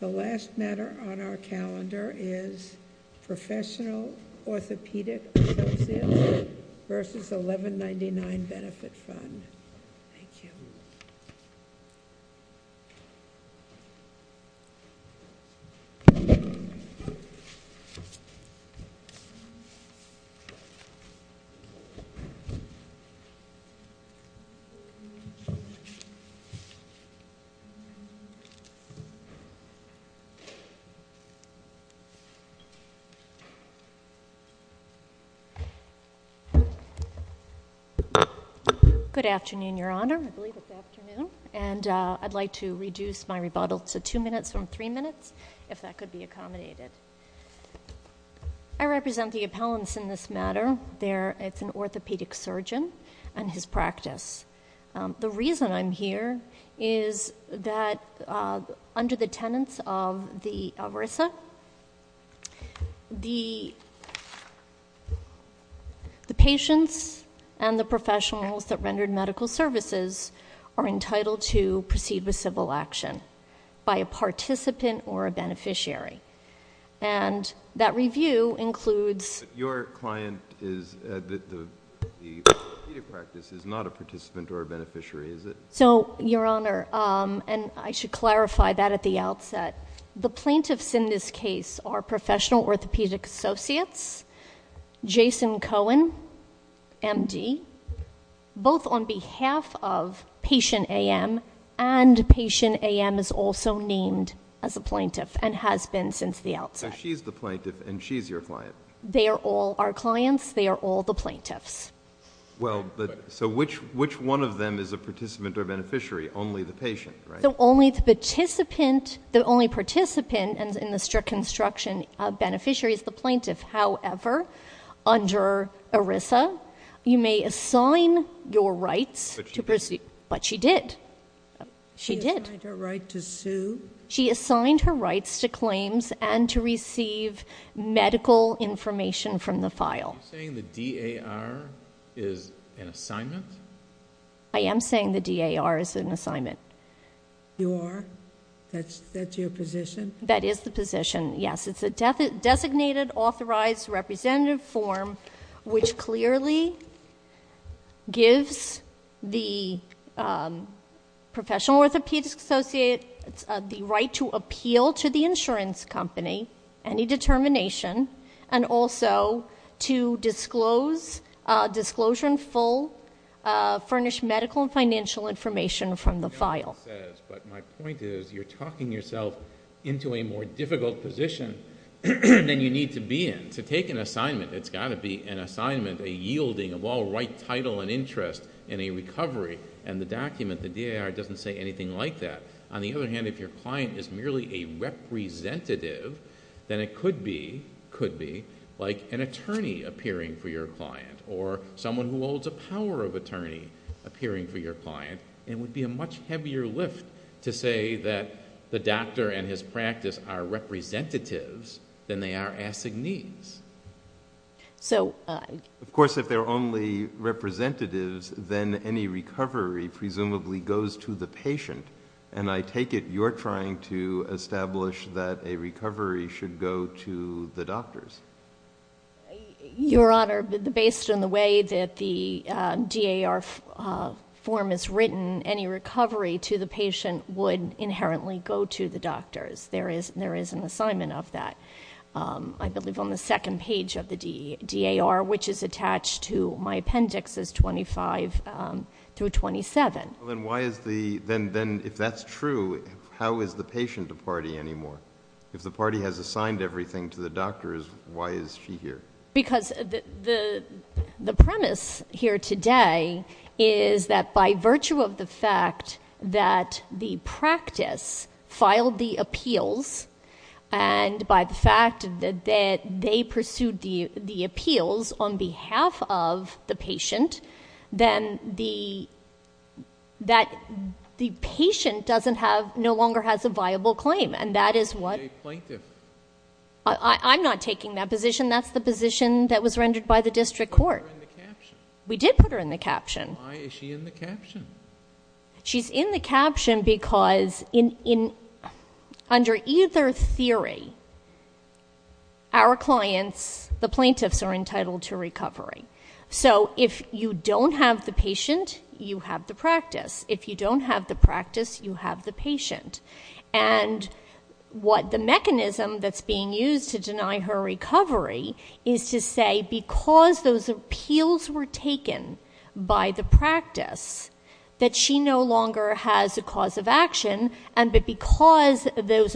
The last matter on our calendar is Professional Orthopaedic Associates vs. 1199 Benefit Fund. I'd like to reduce my rebuttal to two minutes from three minutes, if that could be accommodated. I represent the appellants in this matter. It's an orthopaedic surgeon and his practice. The reason I'm here is that under the tenets of the ERISA, the patients and the professionals that rendered medical services are entitled to proceed with civil action by a participant or a beneficiary. And that review includes... Your client is... the orthopaedic practice is not a participant or a beneficiary, is it? So, Your Honor, and I should clarify that at the outset, the plaintiffs in this case are Professional Orthopaedic Associates, Jason Cohen, MD, both on behalf of Patient AM and Patient AM is also named as a plaintiff and has been since the outset. So she's the plaintiff and she's your client? They are all our clients. They are all the plaintiffs. Well, so which one of them is a participant or beneficiary? Only the patient, right? So only the participant, the only participant in the strict construction of beneficiary is the plaintiff. However, under ERISA, you may assign your rights to proceed. But she did. She assigned her right to sue? She assigned her rights to claims and to receive medical information from the file. Are you saying the DAR is an assignment? I am saying the DAR is an assignment. You are? That's your position? That is the position, yes. It's a designated authorized representative form, which clearly gives the Professional Orthopaedic Associates the right to appeal to the insurance company any determination and also to disclose, disclosure in full, furnish medical and financial information from the file. My point is, you're talking yourself into a more difficult position than you need to be in. To take an assignment, it's got to be an assignment, a yielding of all right title and interest in a recovery, and the document, the DAR, doesn't say anything like that. On the other hand, if your client is merely a representative, then it could be like an attorney appearing for your client or someone who holds a power of attorney appearing for your client. It would be a much heavier lift to say that the doctor and his practice are representatives than they are assignees. Of course, if they're only representatives, then any recovery presumably goes to the patient, and I take it you're trying to establish that a recovery should go to the doctors. Your Honor, based on the way that the DAR form is written, any recovery to the patient would inherently go to the doctors. There is an assignment of that, I believe, on the second page of the DAR, which is attached to my appendix as 25 through 27. Then if that's true, how is the patient a party anymore? If the party has assigned everything to the doctors, why is she here? Because the premise here today is that by virtue of the fact that the practice filed the appeals and by the fact that they pursued the appeals on behalf of the patient, then the patient no longer has a viable claim, and that is what... She's a plaintiff. I'm not taking that position. That's the position that was rendered by the district court. We put her in the caption. We did put her in the caption. Why is she in the caption? She's in the caption because under either theory, our clients, the plaintiffs, are entitled to recovery. So if you don't have the patient, you have the practice. If you don't have the practice, you have the patient. What the mechanism that's being used to deny her recovery is to say because those appeals were taken by the practice, that she no longer has a cause of action, and that because those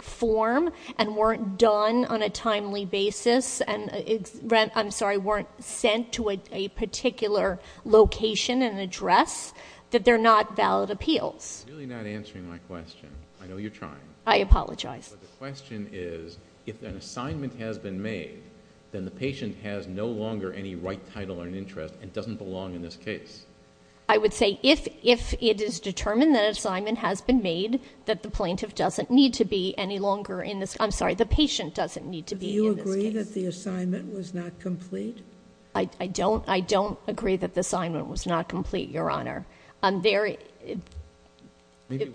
form and weren't done on a timely basis and, I'm sorry, weren't sent to a particular location and address, that they're not valid appeals. You're really not answering my question. I know you're trying. I apologize. But the question is, if an assignment has been made, then the patient has no longer any right, title, or interest and doesn't belong in this case. I would say if it is determined that an assignment has been made, that the plaintiff doesn't need to be any longer in this, I'm sorry, the patient doesn't need to be in this case. Do you agree that the assignment was not complete? I don't. I don't agree that the assignment was not complete, Your Honor. I'm very,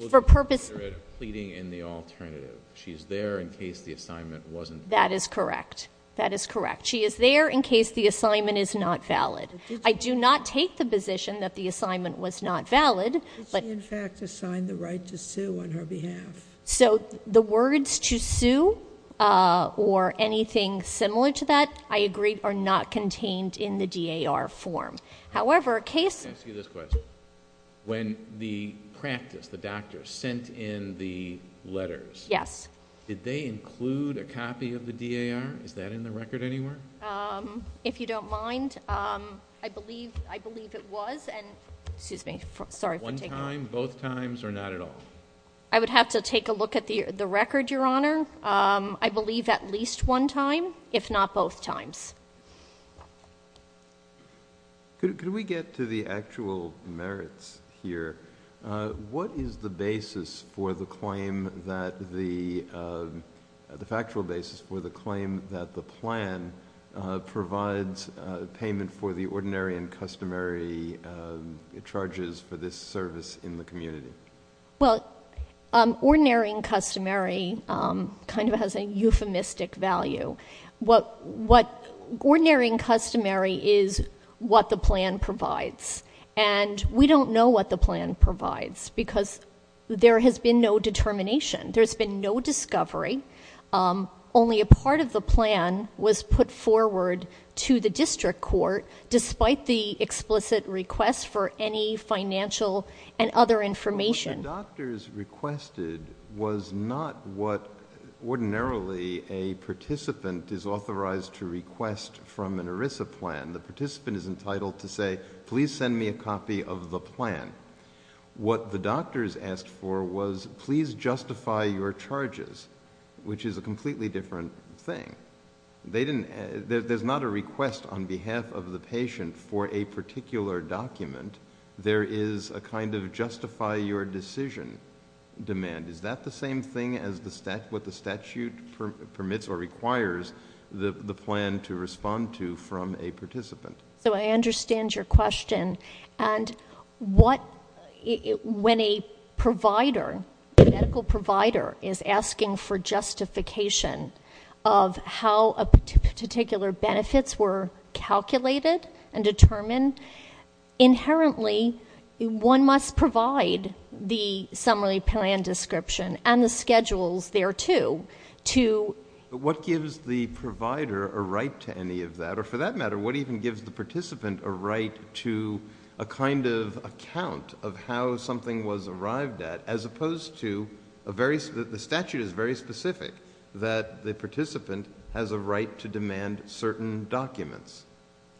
for purpose, Maybe we'll consider it a pleading in the alternative. She's there in case the assignment wasn't valid. That is correct. That is correct. She is there in case the assignment is not valid. I do not take the position that the assignment was not valid, but, Did she in fact assign the right to sue on her behalf? The words to sue or anything similar to that, I agree, are not contained in the DAR form. However, a case, Let me ask you this question. When the practice, the doctor, sent in the letters, did they include a copy of the DAR? Is that in the record anywhere? If you don't mind, I believe it was. Excuse me. Sorry for taking that. One time, both times, or not at all? I would have to take a look at the record, Your Honor. I believe at least one time, if not both times. Could we get to the actual merits here? What is the basis for the claim that the, the factual basis for the claim that the plan provides payment for the ordinary and customary charges for this service in the community? Well, ordinary and customary kind of has a euphemistic value. What, what, ordinary and customary is what the plan provides. And we don't know what the plan provides, because there has been no determination. There's been no discovery. Only a part of the plan was put forward to the district court, despite the explicit request for any financial and other information. What the doctors requested was not what ordinarily a participant is authorized to request from an ERISA plan. The participant is entitled to say, please send me a copy of the plan. What the doctors asked for was, please justify your charges, which is a completely different thing. They didn't, there's not a request on behalf of the patient for a particular document. There is a kind of justify your decision demand. Is that the same thing as the stat, what the statute permits or requires the, the plan to respond to from a participant? So I understand your question. And what, when a provider, a medical provider is asking for justification of how a particular benefits were calculated and determined, inherently one must provide the summary plan description and the schedules there too, to. What gives the provider a right to any of that, or for that matter, what even gives the participant a right to a kind of account of how something was arrived at, as opposed to a very, the statute is very specific that the participant has a right to demand certain documents.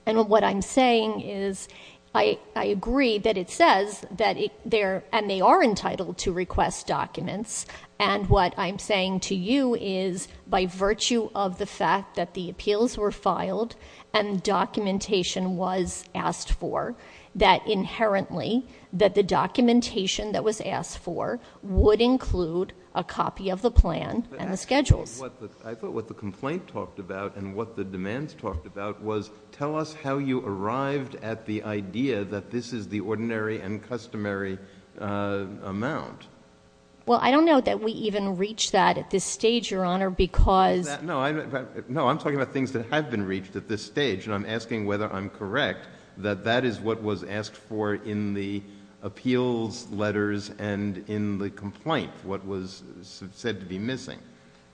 And what I'm saying is I, I agree that it says that there, and they are entitled to request documents. And what I'm saying to you is by virtue of the fact that the appeals were filed and documentation was asked for, that inherently that the documentation that was asked for would include a copy of the plan and the schedules. I thought what the complaint talked about and what the demands talked about was tell us how you arrived at the idea that this is the ordinary and customary amount. Well, I don't know that we even reach that at this stage, Your Honor, because... No, I'm talking about things that have been reached at this stage, and I'm asking whether I'm correct, that that is what was asked for in the appeals letters and in the complaint, what was said to be missing,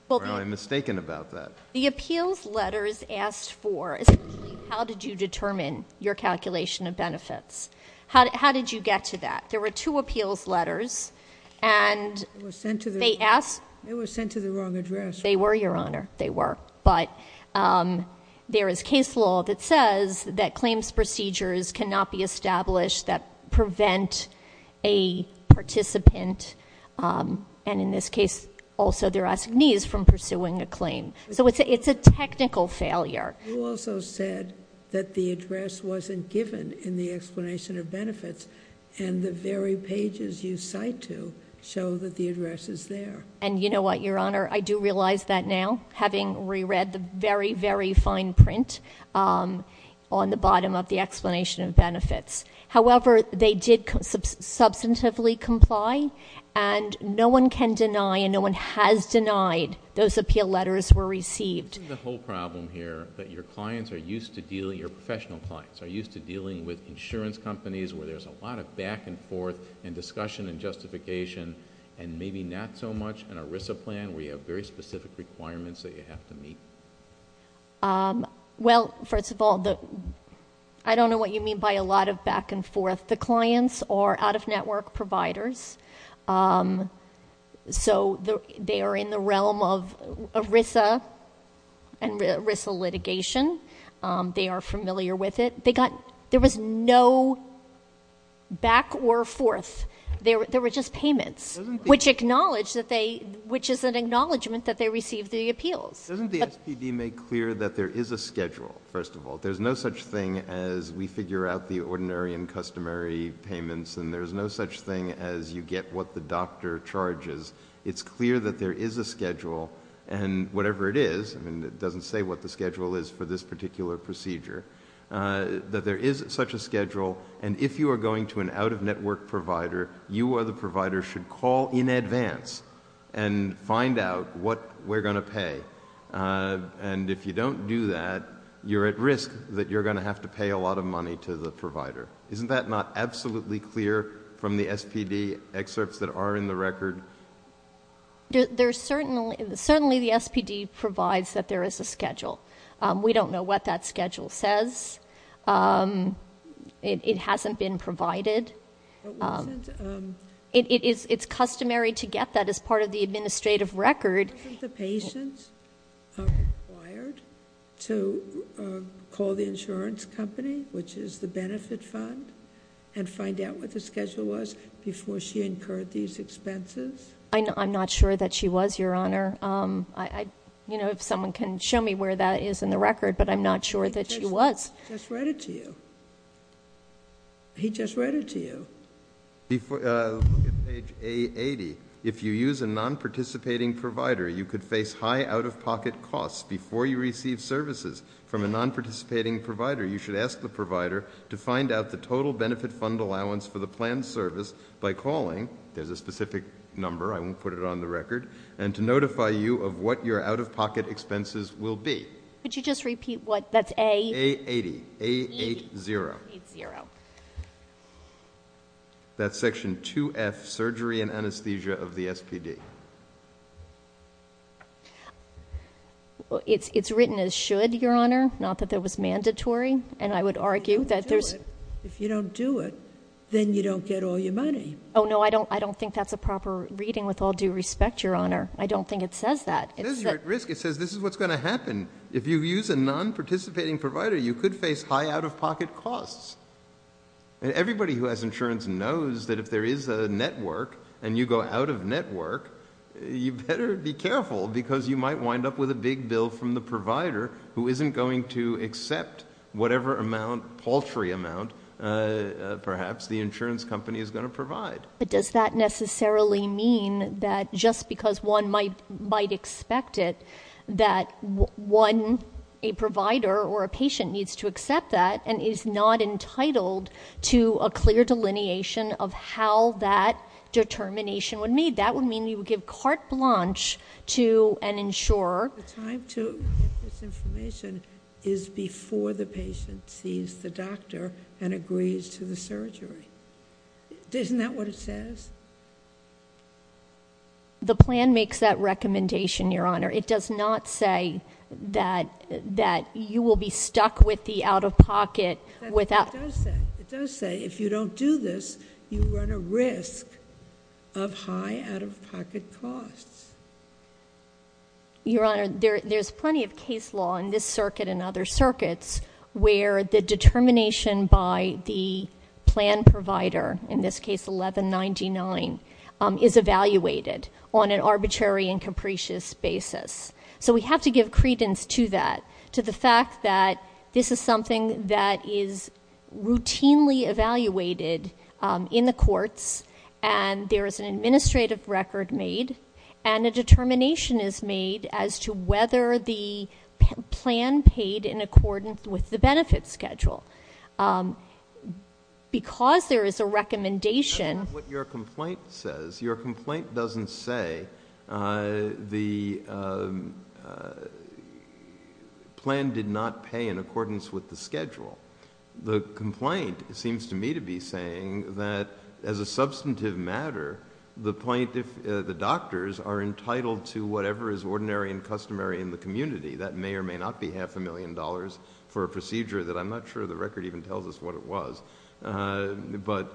or am I mistaken about that? The appeals letters asked for, how did you determine your calculation of benefits? How did you get to that? There were two appeals letters, and they asked... They were sent to the wrong address. They were, Your Honor. They were. But there is case law that says that claims procedures cannot be established that prevent a participant, and in this case, also their assignees from pursuing a claim. So it's a technical failure. You also said that the address wasn't given in the explanation of benefits, and the very pages you cite to show that the address is there. And you know what, Your Honor? I do realize that now, having reread the very, very fine print on the bottom of the explanation of benefits. However, they did substantively comply, and no one can deny, and no one has denied those appeal letters were received. I'm seeing the whole problem here, that your clients are used to dealing, your professional clients, are used to dealing with insurance companies where there's a lot of back and forth and discussion and justification, and maybe not so much an ERISA plan where you have very specific requirements that you have to meet. Well, first of all, I don't know what you mean by a lot of back and forth. The clients are out-of-network providers, so they are in the realm of ERISA and ERISA litigation. They are familiar with it. There was no back or forth. There were just payments, which is an acknowledgment that they received the appeals. Doesn't the SPD make clear that there is a schedule, first of all? There's no such thing as we figure out the ordinary and customary payments, and there's no such thing as you get what the doctor charges. It's clear that there is a schedule, and whatever it is, I mean, it doesn't say what the schedule is for this particular procedure, that there is such a schedule, and if you are going to an out-of-network provider, you or the provider should call in advance and find out what we're going to pay. And if you don't do that, you're at risk that you're going to have to pay a lot of money to the provider. Isn't that not absolutely clear from the SPD excerpts that are in the record? Certainly the SPD provides that there is a schedule. We don't know what that schedule says. It hasn't been provided. It's customary to get that as part of the administrative record. Wasn't the patient required to call the insurance company, which is the benefit fund, and find out what the schedule was before she incurred these expenses? I'm not sure that she was, Your Honor. You know, if someone can show me where that is in the record, but I'm not sure that she was. He just read it to you. He just read it to you. Before you look at page A80, if you use a non-participating provider, you could face high out-of-pocket costs before you receive services from a non-participating provider. You should ask the provider to find out the total benefit fund allowance for the planned service by calling, there's a specific number, I won't put it on the record, and to notify you of what your out-of-pocket expenses will be. Could you just repeat what, that's A? A80. A80. A80. A80. A80. That's section 2F, surgery and anesthesia of the SPD. It's written as should, Your Honor, not that it was mandatory, and I would argue that there's If you don't do it, then you don't get all your money. Oh, no, I don't think that's a proper reading with all due respect, Your Honor. I don't think it says that. It says you're at risk. It says this is what's going to happen. And if you use a non-participating provider, you could face high out-of-pocket costs. Everybody who has insurance knows that if there is a network and you go out of network, you better be careful because you might wind up with a big bill from the provider who isn't going to accept whatever amount, paltry amount, perhaps the insurance company is going to provide. But does that necessarily mean that just because one might expect it, that one, a provider or a patient needs to accept that and is not entitled to a clear delineation of how that determination would meet? That would mean you would give carte blanche to an insurer. The time to get this information is before the patient sees the doctor and agrees to the surgery. Isn't that what it says? The plan makes that recommendation, Your Honor. It does not say that you will be stuck with the out-of-pocket without... It does say if you don't do this, you run a risk of high out-of-pocket costs. Your Honor, there's plenty of case law in this circuit and other circuits where the provider, in this case 1199, is evaluated on an arbitrary and capricious basis. So we have to give credence to that, to the fact that this is something that is routinely evaluated in the courts and there is an administrative record made and a determination is made as to whether the plan paid in accordance with the benefit schedule. Because there is a recommendation... That's not what your complaint says. Your complaint doesn't say the plan did not pay in accordance with the schedule. The complaint seems to me to be saying that as a substantive matter, the doctors are entitled to whatever is ordinary and customary in the community. That may or may not be half a million dollars for a procedure that I'm not sure the record even tells us what it was. But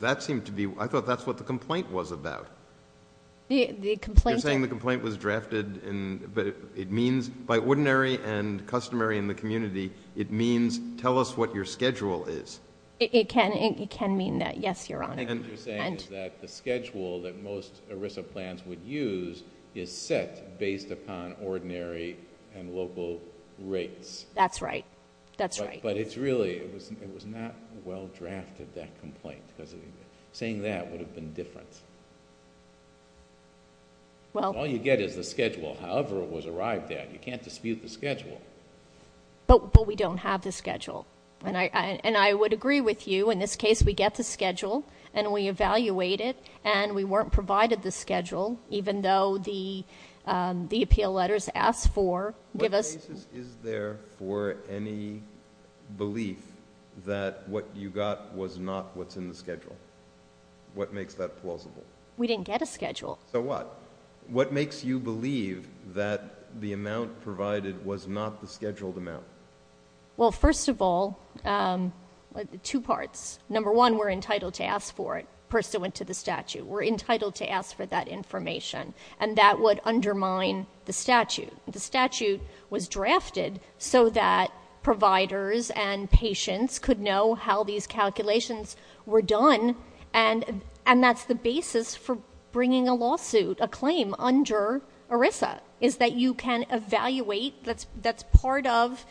that seemed to be... I thought that's what the complaint was about. The complaint... You're saying the complaint was drafted... It means by ordinary and customary in the community, it means tell us what your schedule is. It can mean that. Yes, Your Honor. And what you're saying is that the schedule that most ERISA plans would use is set based upon ordinary and local rates. That's right. That's right. But it's really... it was not well drafted, that complaint. Saying that would have been different. Well... All you get is the schedule, however it was arrived at. You can't dispute the schedule. But we don't have the schedule. And I would agree with you. In this case, we get the schedule and we evaluate it and we weren't provided the schedule, even though the appeal letters ask for, give us... What basis is there for any belief that what you got was not what's in the schedule? What makes that plausible? We didn't get a schedule. So what? What makes you believe that the amount provided was not the scheduled amount? Well, first of all, two parts. Number one, we're entitled to ask for it, pursuant to the statute. We're entitled to ask for that information. And that would undermine the statute. The statute was drafted so that providers and patients could know how these calculations were done. And that's the basis for bringing a lawsuit, a claim, under ERISA, is that you can evaluate. That's part of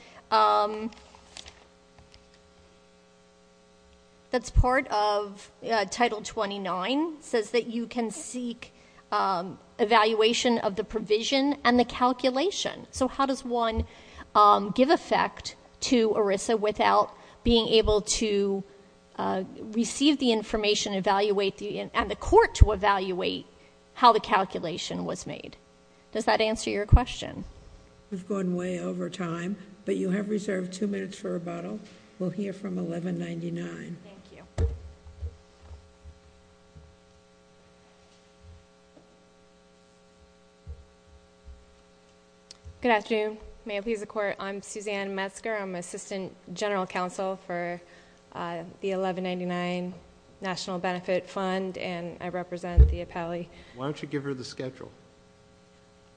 Title 29, says that you can seek evaluation of the provision and the calculation. So how does one give effect to ERISA without being able to receive the information, evaluate the... and the court to evaluate how the calculation was made? Does that answer your question? We've gone way over time, but you have reserved two minutes for rebuttal. We'll hear from 1199. Thank you. Good afternoon. May it please the Court, I'm Suzanne Metzger. I'm Assistant General Counsel for the 1199 National Benefit Fund, and I represent the appellee. Why don't you give her the schedule?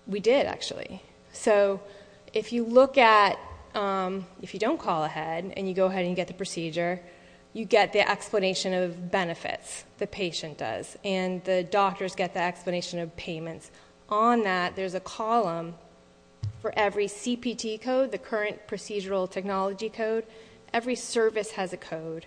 We did, actually. So if you look at... if you don't call ahead and you go ahead and get the procedure, you get the explanation of benefits, the patient does, and the doctors get the explanation of payments. On that, there's a column for every CPT code, the current procedural technology code. Every service has a code.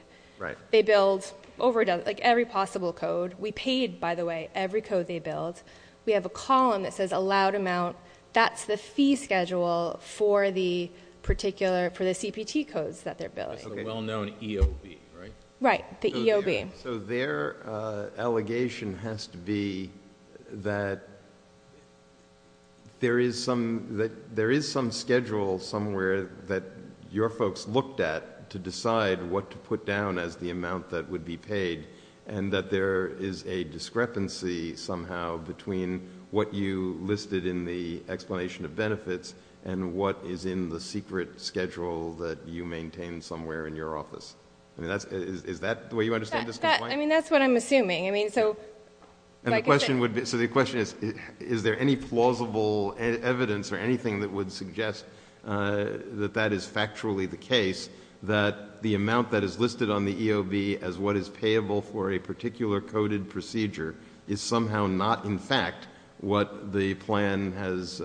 They build over a dozen... like, every possible code. We paid, by the way, every code they build. We have a column that says allowed amount. That's the fee schedule for the particular... for the CPT codes that they're building. It's a well-known EOB, right? Right. The EOB. So their allegation has to be that there is some schedule somewhere that your folks looked at to decide what to put down as the amount that would be paid, and that there is a discrepancy somehow between what you listed in the explanation of benefits and what is in the secret schedule that you maintain somewhere in your office. Is that the way you understand this complaint? I mean, that's what I'm assuming. I mean, so... And the question would be... so the question is, is there any plausible evidence or anything that would suggest that that is factually the case, that the amount that is listed on somehow not in fact what the plan has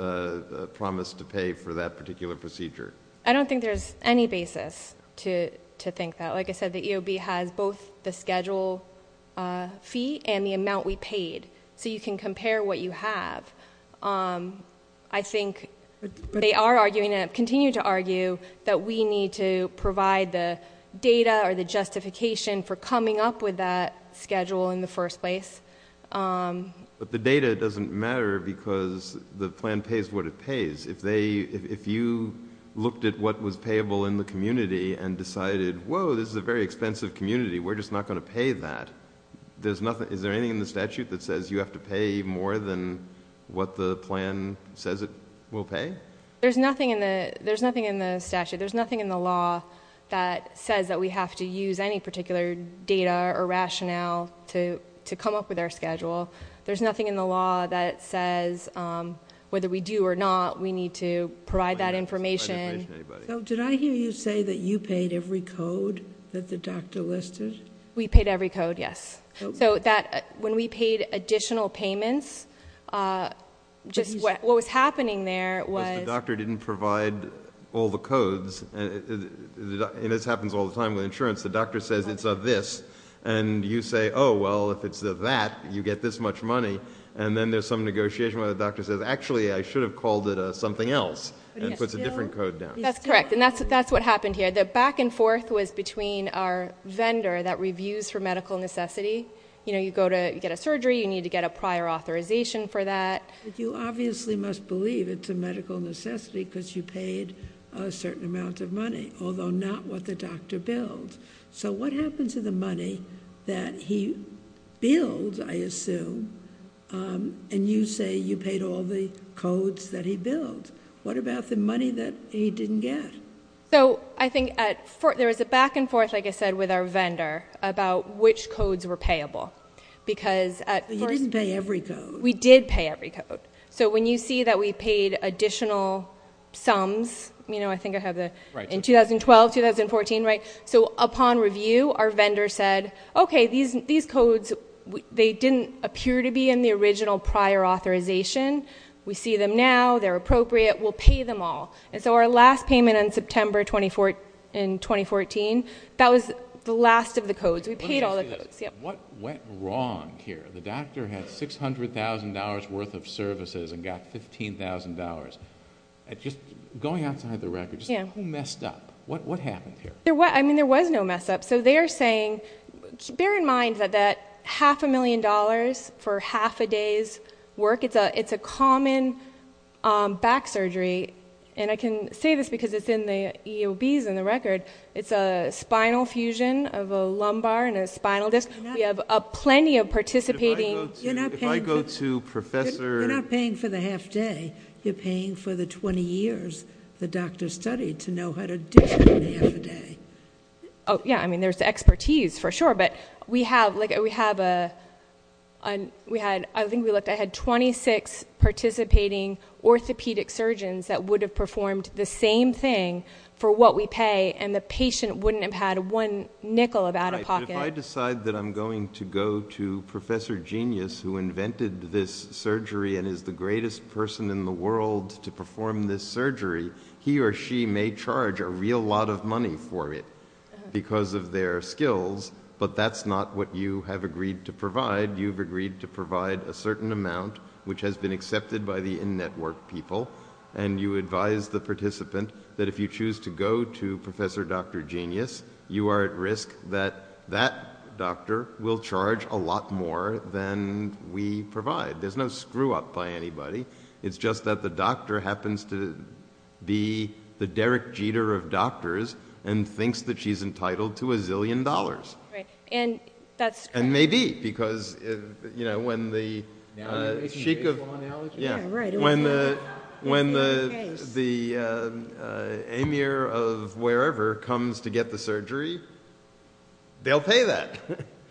promised to pay for that particular procedure? I don't think there's any basis to think that. Like I said, the EOB has both the schedule fee and the amount we paid, so you can compare what you have. I think they are arguing and continue to argue that we need to provide the data or the justification for coming up with that schedule in the first place. But the data doesn't matter because the plan pays what it pays. If you looked at what was payable in the community and decided, whoa, this is a very expensive community, we're just not going to pay that, is there anything in the statute that says you have to pay more than what the plan says it will pay? There's nothing in the statute. There's nothing in the law that says that we have to use any particular data or rationale to come up with our schedule. There's nothing in the law that says whether we do or not, we need to provide that information. Did I hear you say that you paid every code that the doctor listed? We paid every code, yes. So when we paid additional payments, just what was happening there was... And this happens all the time with insurance. The doctor says it's this, and you say, oh, well, if it's that, you get this much money. And then there's some negotiation where the doctor says, actually, I should have called it something else and puts a different code down. That's correct. And that's what happened here. The back and forth was between our vendor that reviews for medical necessity. You know, you go to get a surgery, you need to get a prior authorization for that. You obviously must believe it's a medical necessity because you paid a certain amount of money, although not what the doctor billed. So what happened to the money that he billed, I assume, and you say you paid all the codes that he billed? What about the money that he didn't get? So I think there was a back and forth, like I said, with our vendor about which codes were payable. But you didn't pay every code. We did pay every code. So when you see that we paid additional sums, you know, I think I have the 2012, 2014, right? So upon review, our vendor said, OK, these codes, they didn't appear to be in the original prior authorization. We see them now. They're appropriate. We'll pay them all. And so our last payment in September 2014, that was the last of the codes. We paid all the codes. Let me just say this. What went wrong here? The doctor had $600,000 worth of services and got $15,000. Just going outside the record, who messed up? What happened here? I mean, there was no mess up. So they're saying, bear in mind that that half a million dollars for half a day's work, it's a common back surgery. And I can say this because it's in the EOBs in the record. It's a spinal fusion of a lumbar and a spinal disc. We have plenty of participating. If I go to Professor... You're not paying for the half day. You're paying for the 20 years the doctor studied to know how to do it in half a day. Oh, yeah. I mean, there's the expertise, for sure. But we have, like, we have a, we had, I think we looked, I had 26 participating orthopedic surgeons that would have performed the same thing for what we pay, and the patient wouldn't have had one nickel of out-of-pocket. If I decide that I'm going to go to Professor Genius, who invented this surgery and is the greatest person in the world to perform this surgery, he or she may charge a real lot of money for it because of their skills, but that's not what you have agreed to provide. You've agreed to provide a certain amount, which has been accepted by the in-network people, and you advise the participant that if you choose to go to Professor Dr. Genius, you are at risk that that doctor will charge a lot more than we provide. There's no screw-up by anybody. It's just that the doctor happens to be the Derek Jeter of doctors and thinks that she's entitled to a zillion dollars. Right. And that's true. And maybe, because, you know, when the Sheik of, yeah, when the Amir of wherever comes to get the surgery, they'll pay that.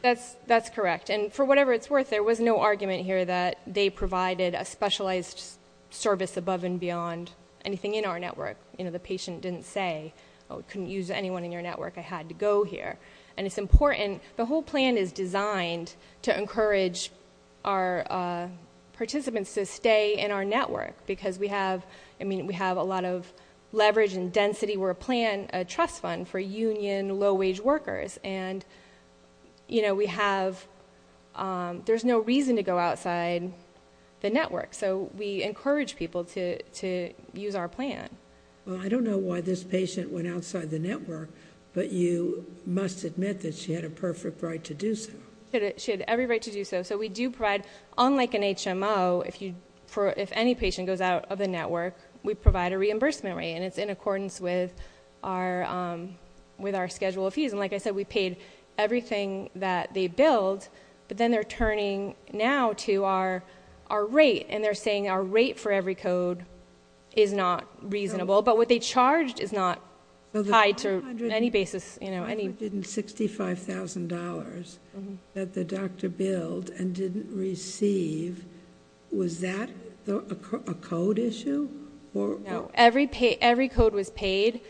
That's correct. And for whatever it's worth, there was no argument here that they provided a specialized service above and beyond anything in our network. You know, the patient didn't say, oh, we couldn't use anyone in your network. I had to go here. And it's important. The whole plan is designed to encourage our participants to stay in our network because we have, I mean, we have a lot of leverage and density. We're a plan, a trust fund for union, low-wage workers, and, you know, we have, there's no reason to go outside the network. So we encourage people to use our plan. Well, I don't know why this patient went outside the network, but you must admit that she had a perfect right to do so. She had every right to do so. So we do provide, unlike an HMO, if you, if any patient goes out of the network, we provide a reimbursement rate. And it's in accordance with our, with our schedule of fees. And like I said, we paid everything that they billed, but then they're turning now to our, our rate. And they're saying our rate for every code is not reasonable, but what they charged is not tied to any basis, you know, any. $165,000 that the doctor billed and didn't receive. Was that a code issue or? No. Every pay, every code was paid,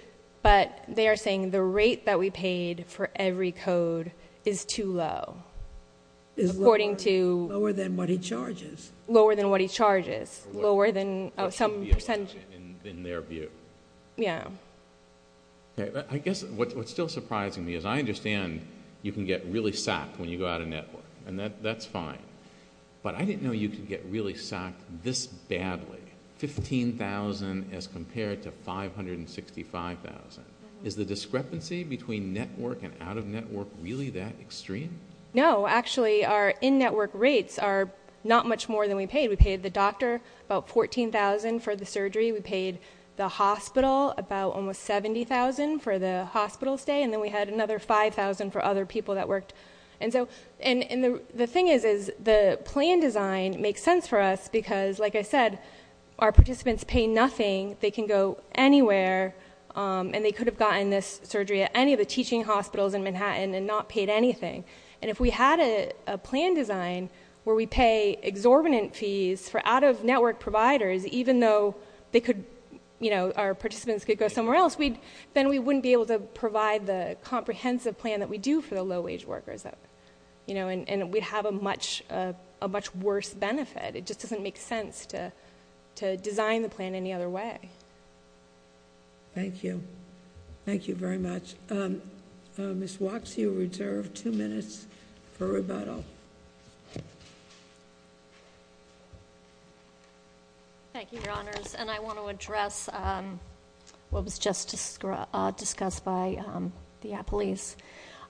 but they are saying the rate that we paid for every code is too low, according to, lower than what he charges, lower than what he charges, lower than some percentage in their view. Yeah. Okay. I guess what's still surprising me is I understand you can get really sacked when you go out of network and that, that's fine, but I didn't know you could get really sacked this badly 15,000 as compared to 565,000. Is the discrepancy between network and out of network really that extreme? No, actually our in network rates are not much more than we paid. We paid the doctor about 14,000 for the surgery. We paid the hospital about almost 70,000 for the hospital stay. And then we had another 5,000 for other people that worked. And so, and the thing is, is the plan design makes sense for us because like I said, our participants pay nothing. They can go anywhere and they could have gotten this surgery at any of the teaching hospitals in Manhattan and not paid anything. And if we had a plan design where we pay exorbitant fees for out of network providers, even though they could, you know, our participants could go somewhere else, we'd, then we wouldn't be able to provide the comprehensive plan that we do for the low wage workers that, you know, and, and we'd have a much, a much worse benefit. It just doesn't make sense to, to design the plan any other way. Thank you. Thank you very much. Um, uh, Ms. Woxie, you're reserved two minutes for rebuttal. Thank you, your honors. And I want to address, um, what was just discussed by, um, the police,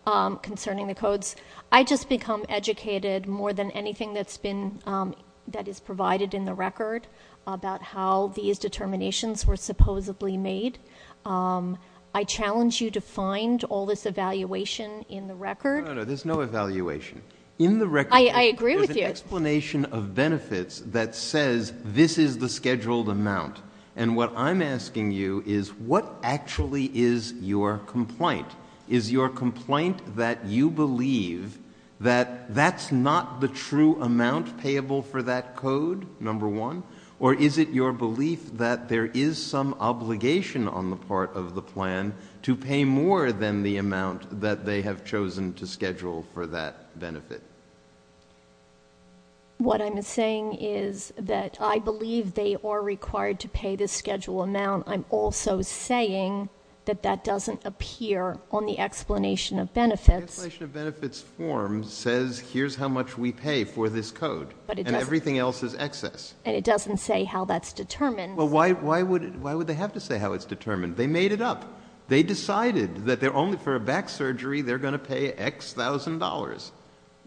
um, concerning the codes. I just become educated more than anything that's been, um, that is provided in the record about how these determinations were supposedly made. Um, I challenge you to find all this evaluation in the record. No, no, no. I challenge you. In the record. I, I agree with you. There's an explanation of benefits that says this is the scheduled amount. And what I'm asking you is what actually is your complaint? Is your complaint that you believe that that's not the true amount payable for that code, number one? Or is it your belief that there is some obligation on the part of the plan to pay more than the What I'm saying is that I believe they are required to pay the schedule amount. I'm also saying that that doesn't appear on the explanation of benefits. Explanation of benefits form says here's how much we pay for this code, but everything else is excess. And it doesn't say how that's determined. Well, why, why would, why would they have to say how it's determined? They made it up. They decided that they're only for a back surgery. They're going to pay X thousand dollars.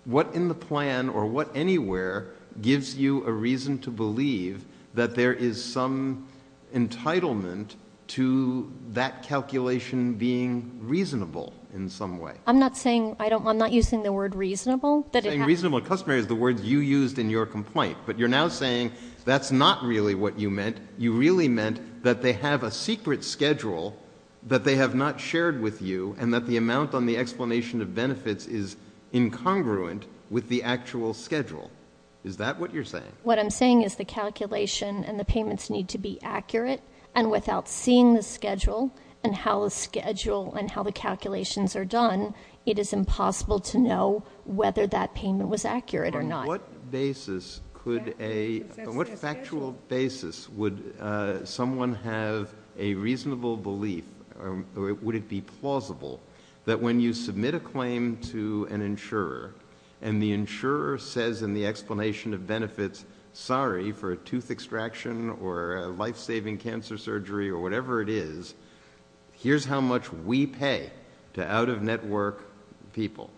What in the plan or what anywhere gives you a reason to believe that there is some entitlement to that calculation being reasonable in some way? I'm not saying, I don't, I'm not using the word reasonable. Saying reasonable customary is the word you used in your complaint. But you're now saying that's not really what you meant. You really meant that they have a secret schedule that they have not shared with you and that the amount on the explanation of benefits is incongruent with the actual schedule. Is that what you're saying? What I'm saying is the calculation and the payments need to be accurate. And without seeing the schedule and how the schedule and how the calculations are done, it is impossible to know whether that payment was accurate or not. What basis could a, what factual basis would someone have a reasonable belief or would it be plausible that when you submit a claim to an insurer and the insurer says in the explanation of benefits, sorry for a tooth extraction or a life-saving cancer surgery or whatever it is, here's how much we pay to out-of-network people.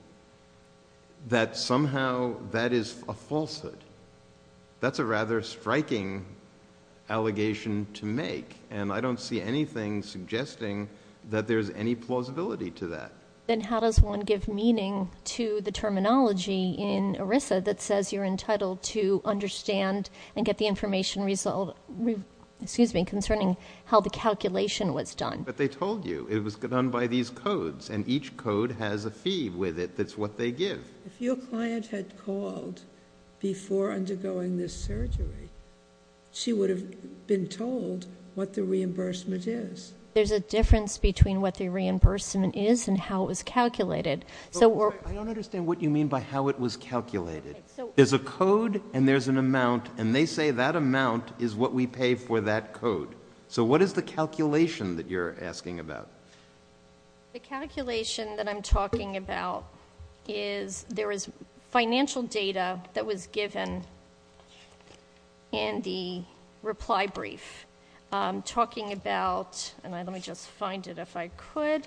That somehow that is a falsehood. That's a rather striking allegation to make. And I don't see anything suggesting that there's any plausibility to that. Then how does one give meaning to the terminology in ERISA that says you're entitled to understand and get the information result, excuse me, concerning how the calculation was done. But they told you it was done by these codes and each code has a fee with it. That's what they give. If your client had called before undergoing this surgery, she would have been told what the reimbursement is. There's a difference between what the reimbursement is and how it was calculated. So I don't understand what you mean by how it was calculated. There's a code and there's an amount and they say that amount is what we pay for that code. So what is the calculation that you're asking about? The calculation that I'm talking about is there is financial data that was given in the reply brief talking about, and let me just find it if I could,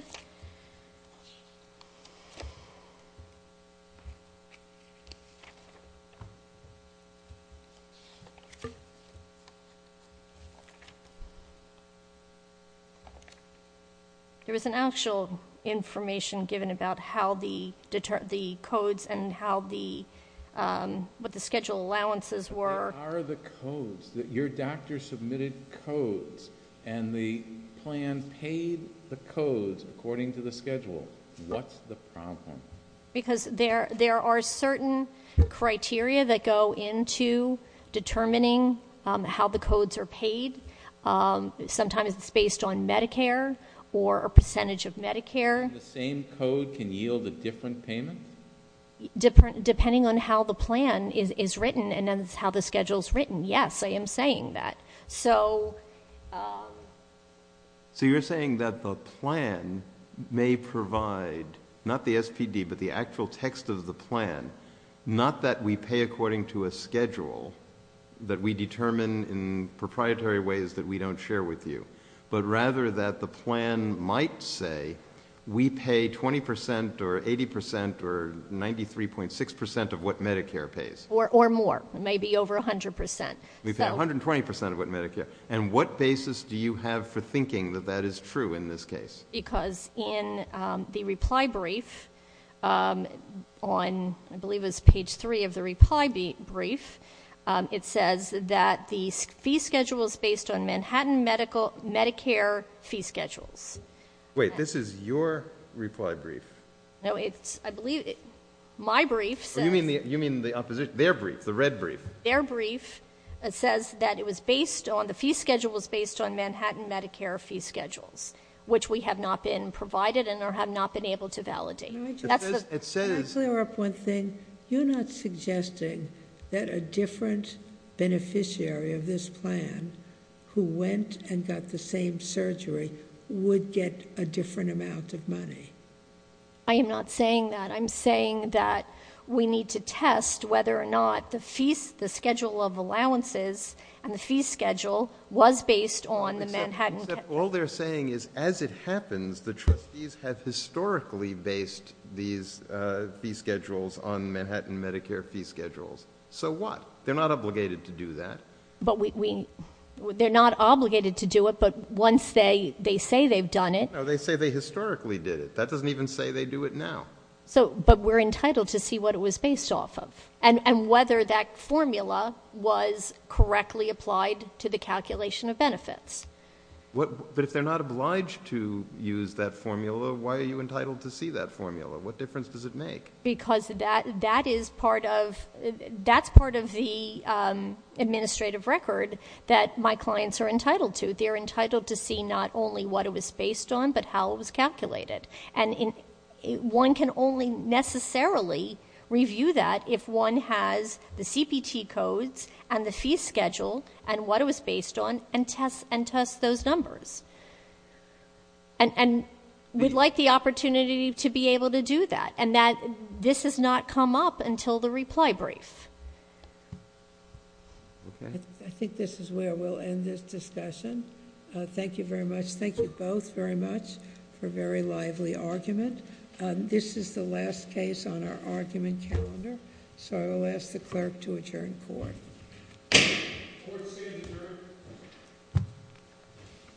there was an actual information given about how the codes and how the, what the schedule allowances were. What are the codes that your doctor submitted codes and the plan paid the codes according to the schedule? What's the problem? Because there are certain criteria that go into determining how the codes are paid. Sometimes it's based on Medicare or a percentage of Medicare. The same code can yield a different payment? Depending on how the plan is written and then how the schedule is written. Yes, I am saying that. So you're saying that the plan may provide, not the SPD, but the actual text of the plan, not that we pay according to a schedule that we determine in proprietary ways that we don't share with you, but rather that the plan might say we pay 20% or 80% or 93.6% of what Medicare pays. Or more. Maybe over 100%. We pay 120% of what Medicare. And what basis do you have for thinking that that is true in this case? Because in the reply brief on, I believe it was page three of the reply brief, it says that the fee schedule is based on Manhattan Medicare fee schedules. Wait, this is your reply brief? No, it's, I believe, my brief says. You mean the opposition, their brief, the red brief? Their brief says that it was based on, the fee schedule was based on Manhattan Medicare fee schedules, which we have not been provided and have not been able to validate. Let me clear up one thing. You're not suggesting that a different beneficiary of this plan who went and got the same surgery would get a different amount of money. I am not saying that. I'm saying that we need to test whether or not the fees, the schedule of allowances and the fee schedule was based on the Manhattan. All they're saying is as it happens, the trustees have historically based these fee schedules on Manhattan Medicare fee schedules. So what? They're not obligated to do that. But we, they're not obligated to do it, but once they, they say they've done it. No, they say they historically did it. That doesn't even say they do it now. So, but we're entitled to see what it was based off of and whether that formula was a calculation of benefits. What, but if they're not obliged to use that formula, why are you entitled to see that formula? What difference does it make? Because that, that is part of, that's part of the administrative record that my clients are entitled to. They're entitled to see not only what it was based on, but how it was calculated. And one can only necessarily review that if one has the CPT codes and the fee schedule and what it was based on and test, and test those numbers. And we'd like the opportunity to be able to do that. And that this has not come up until the reply brief. Okay. I think this is where we'll end this discussion. Thank you very much. Thank you both very much for a very lively argument. This is the last case on our argument calendar. So I will ask the clerk to adjourn court. Court is adjourned.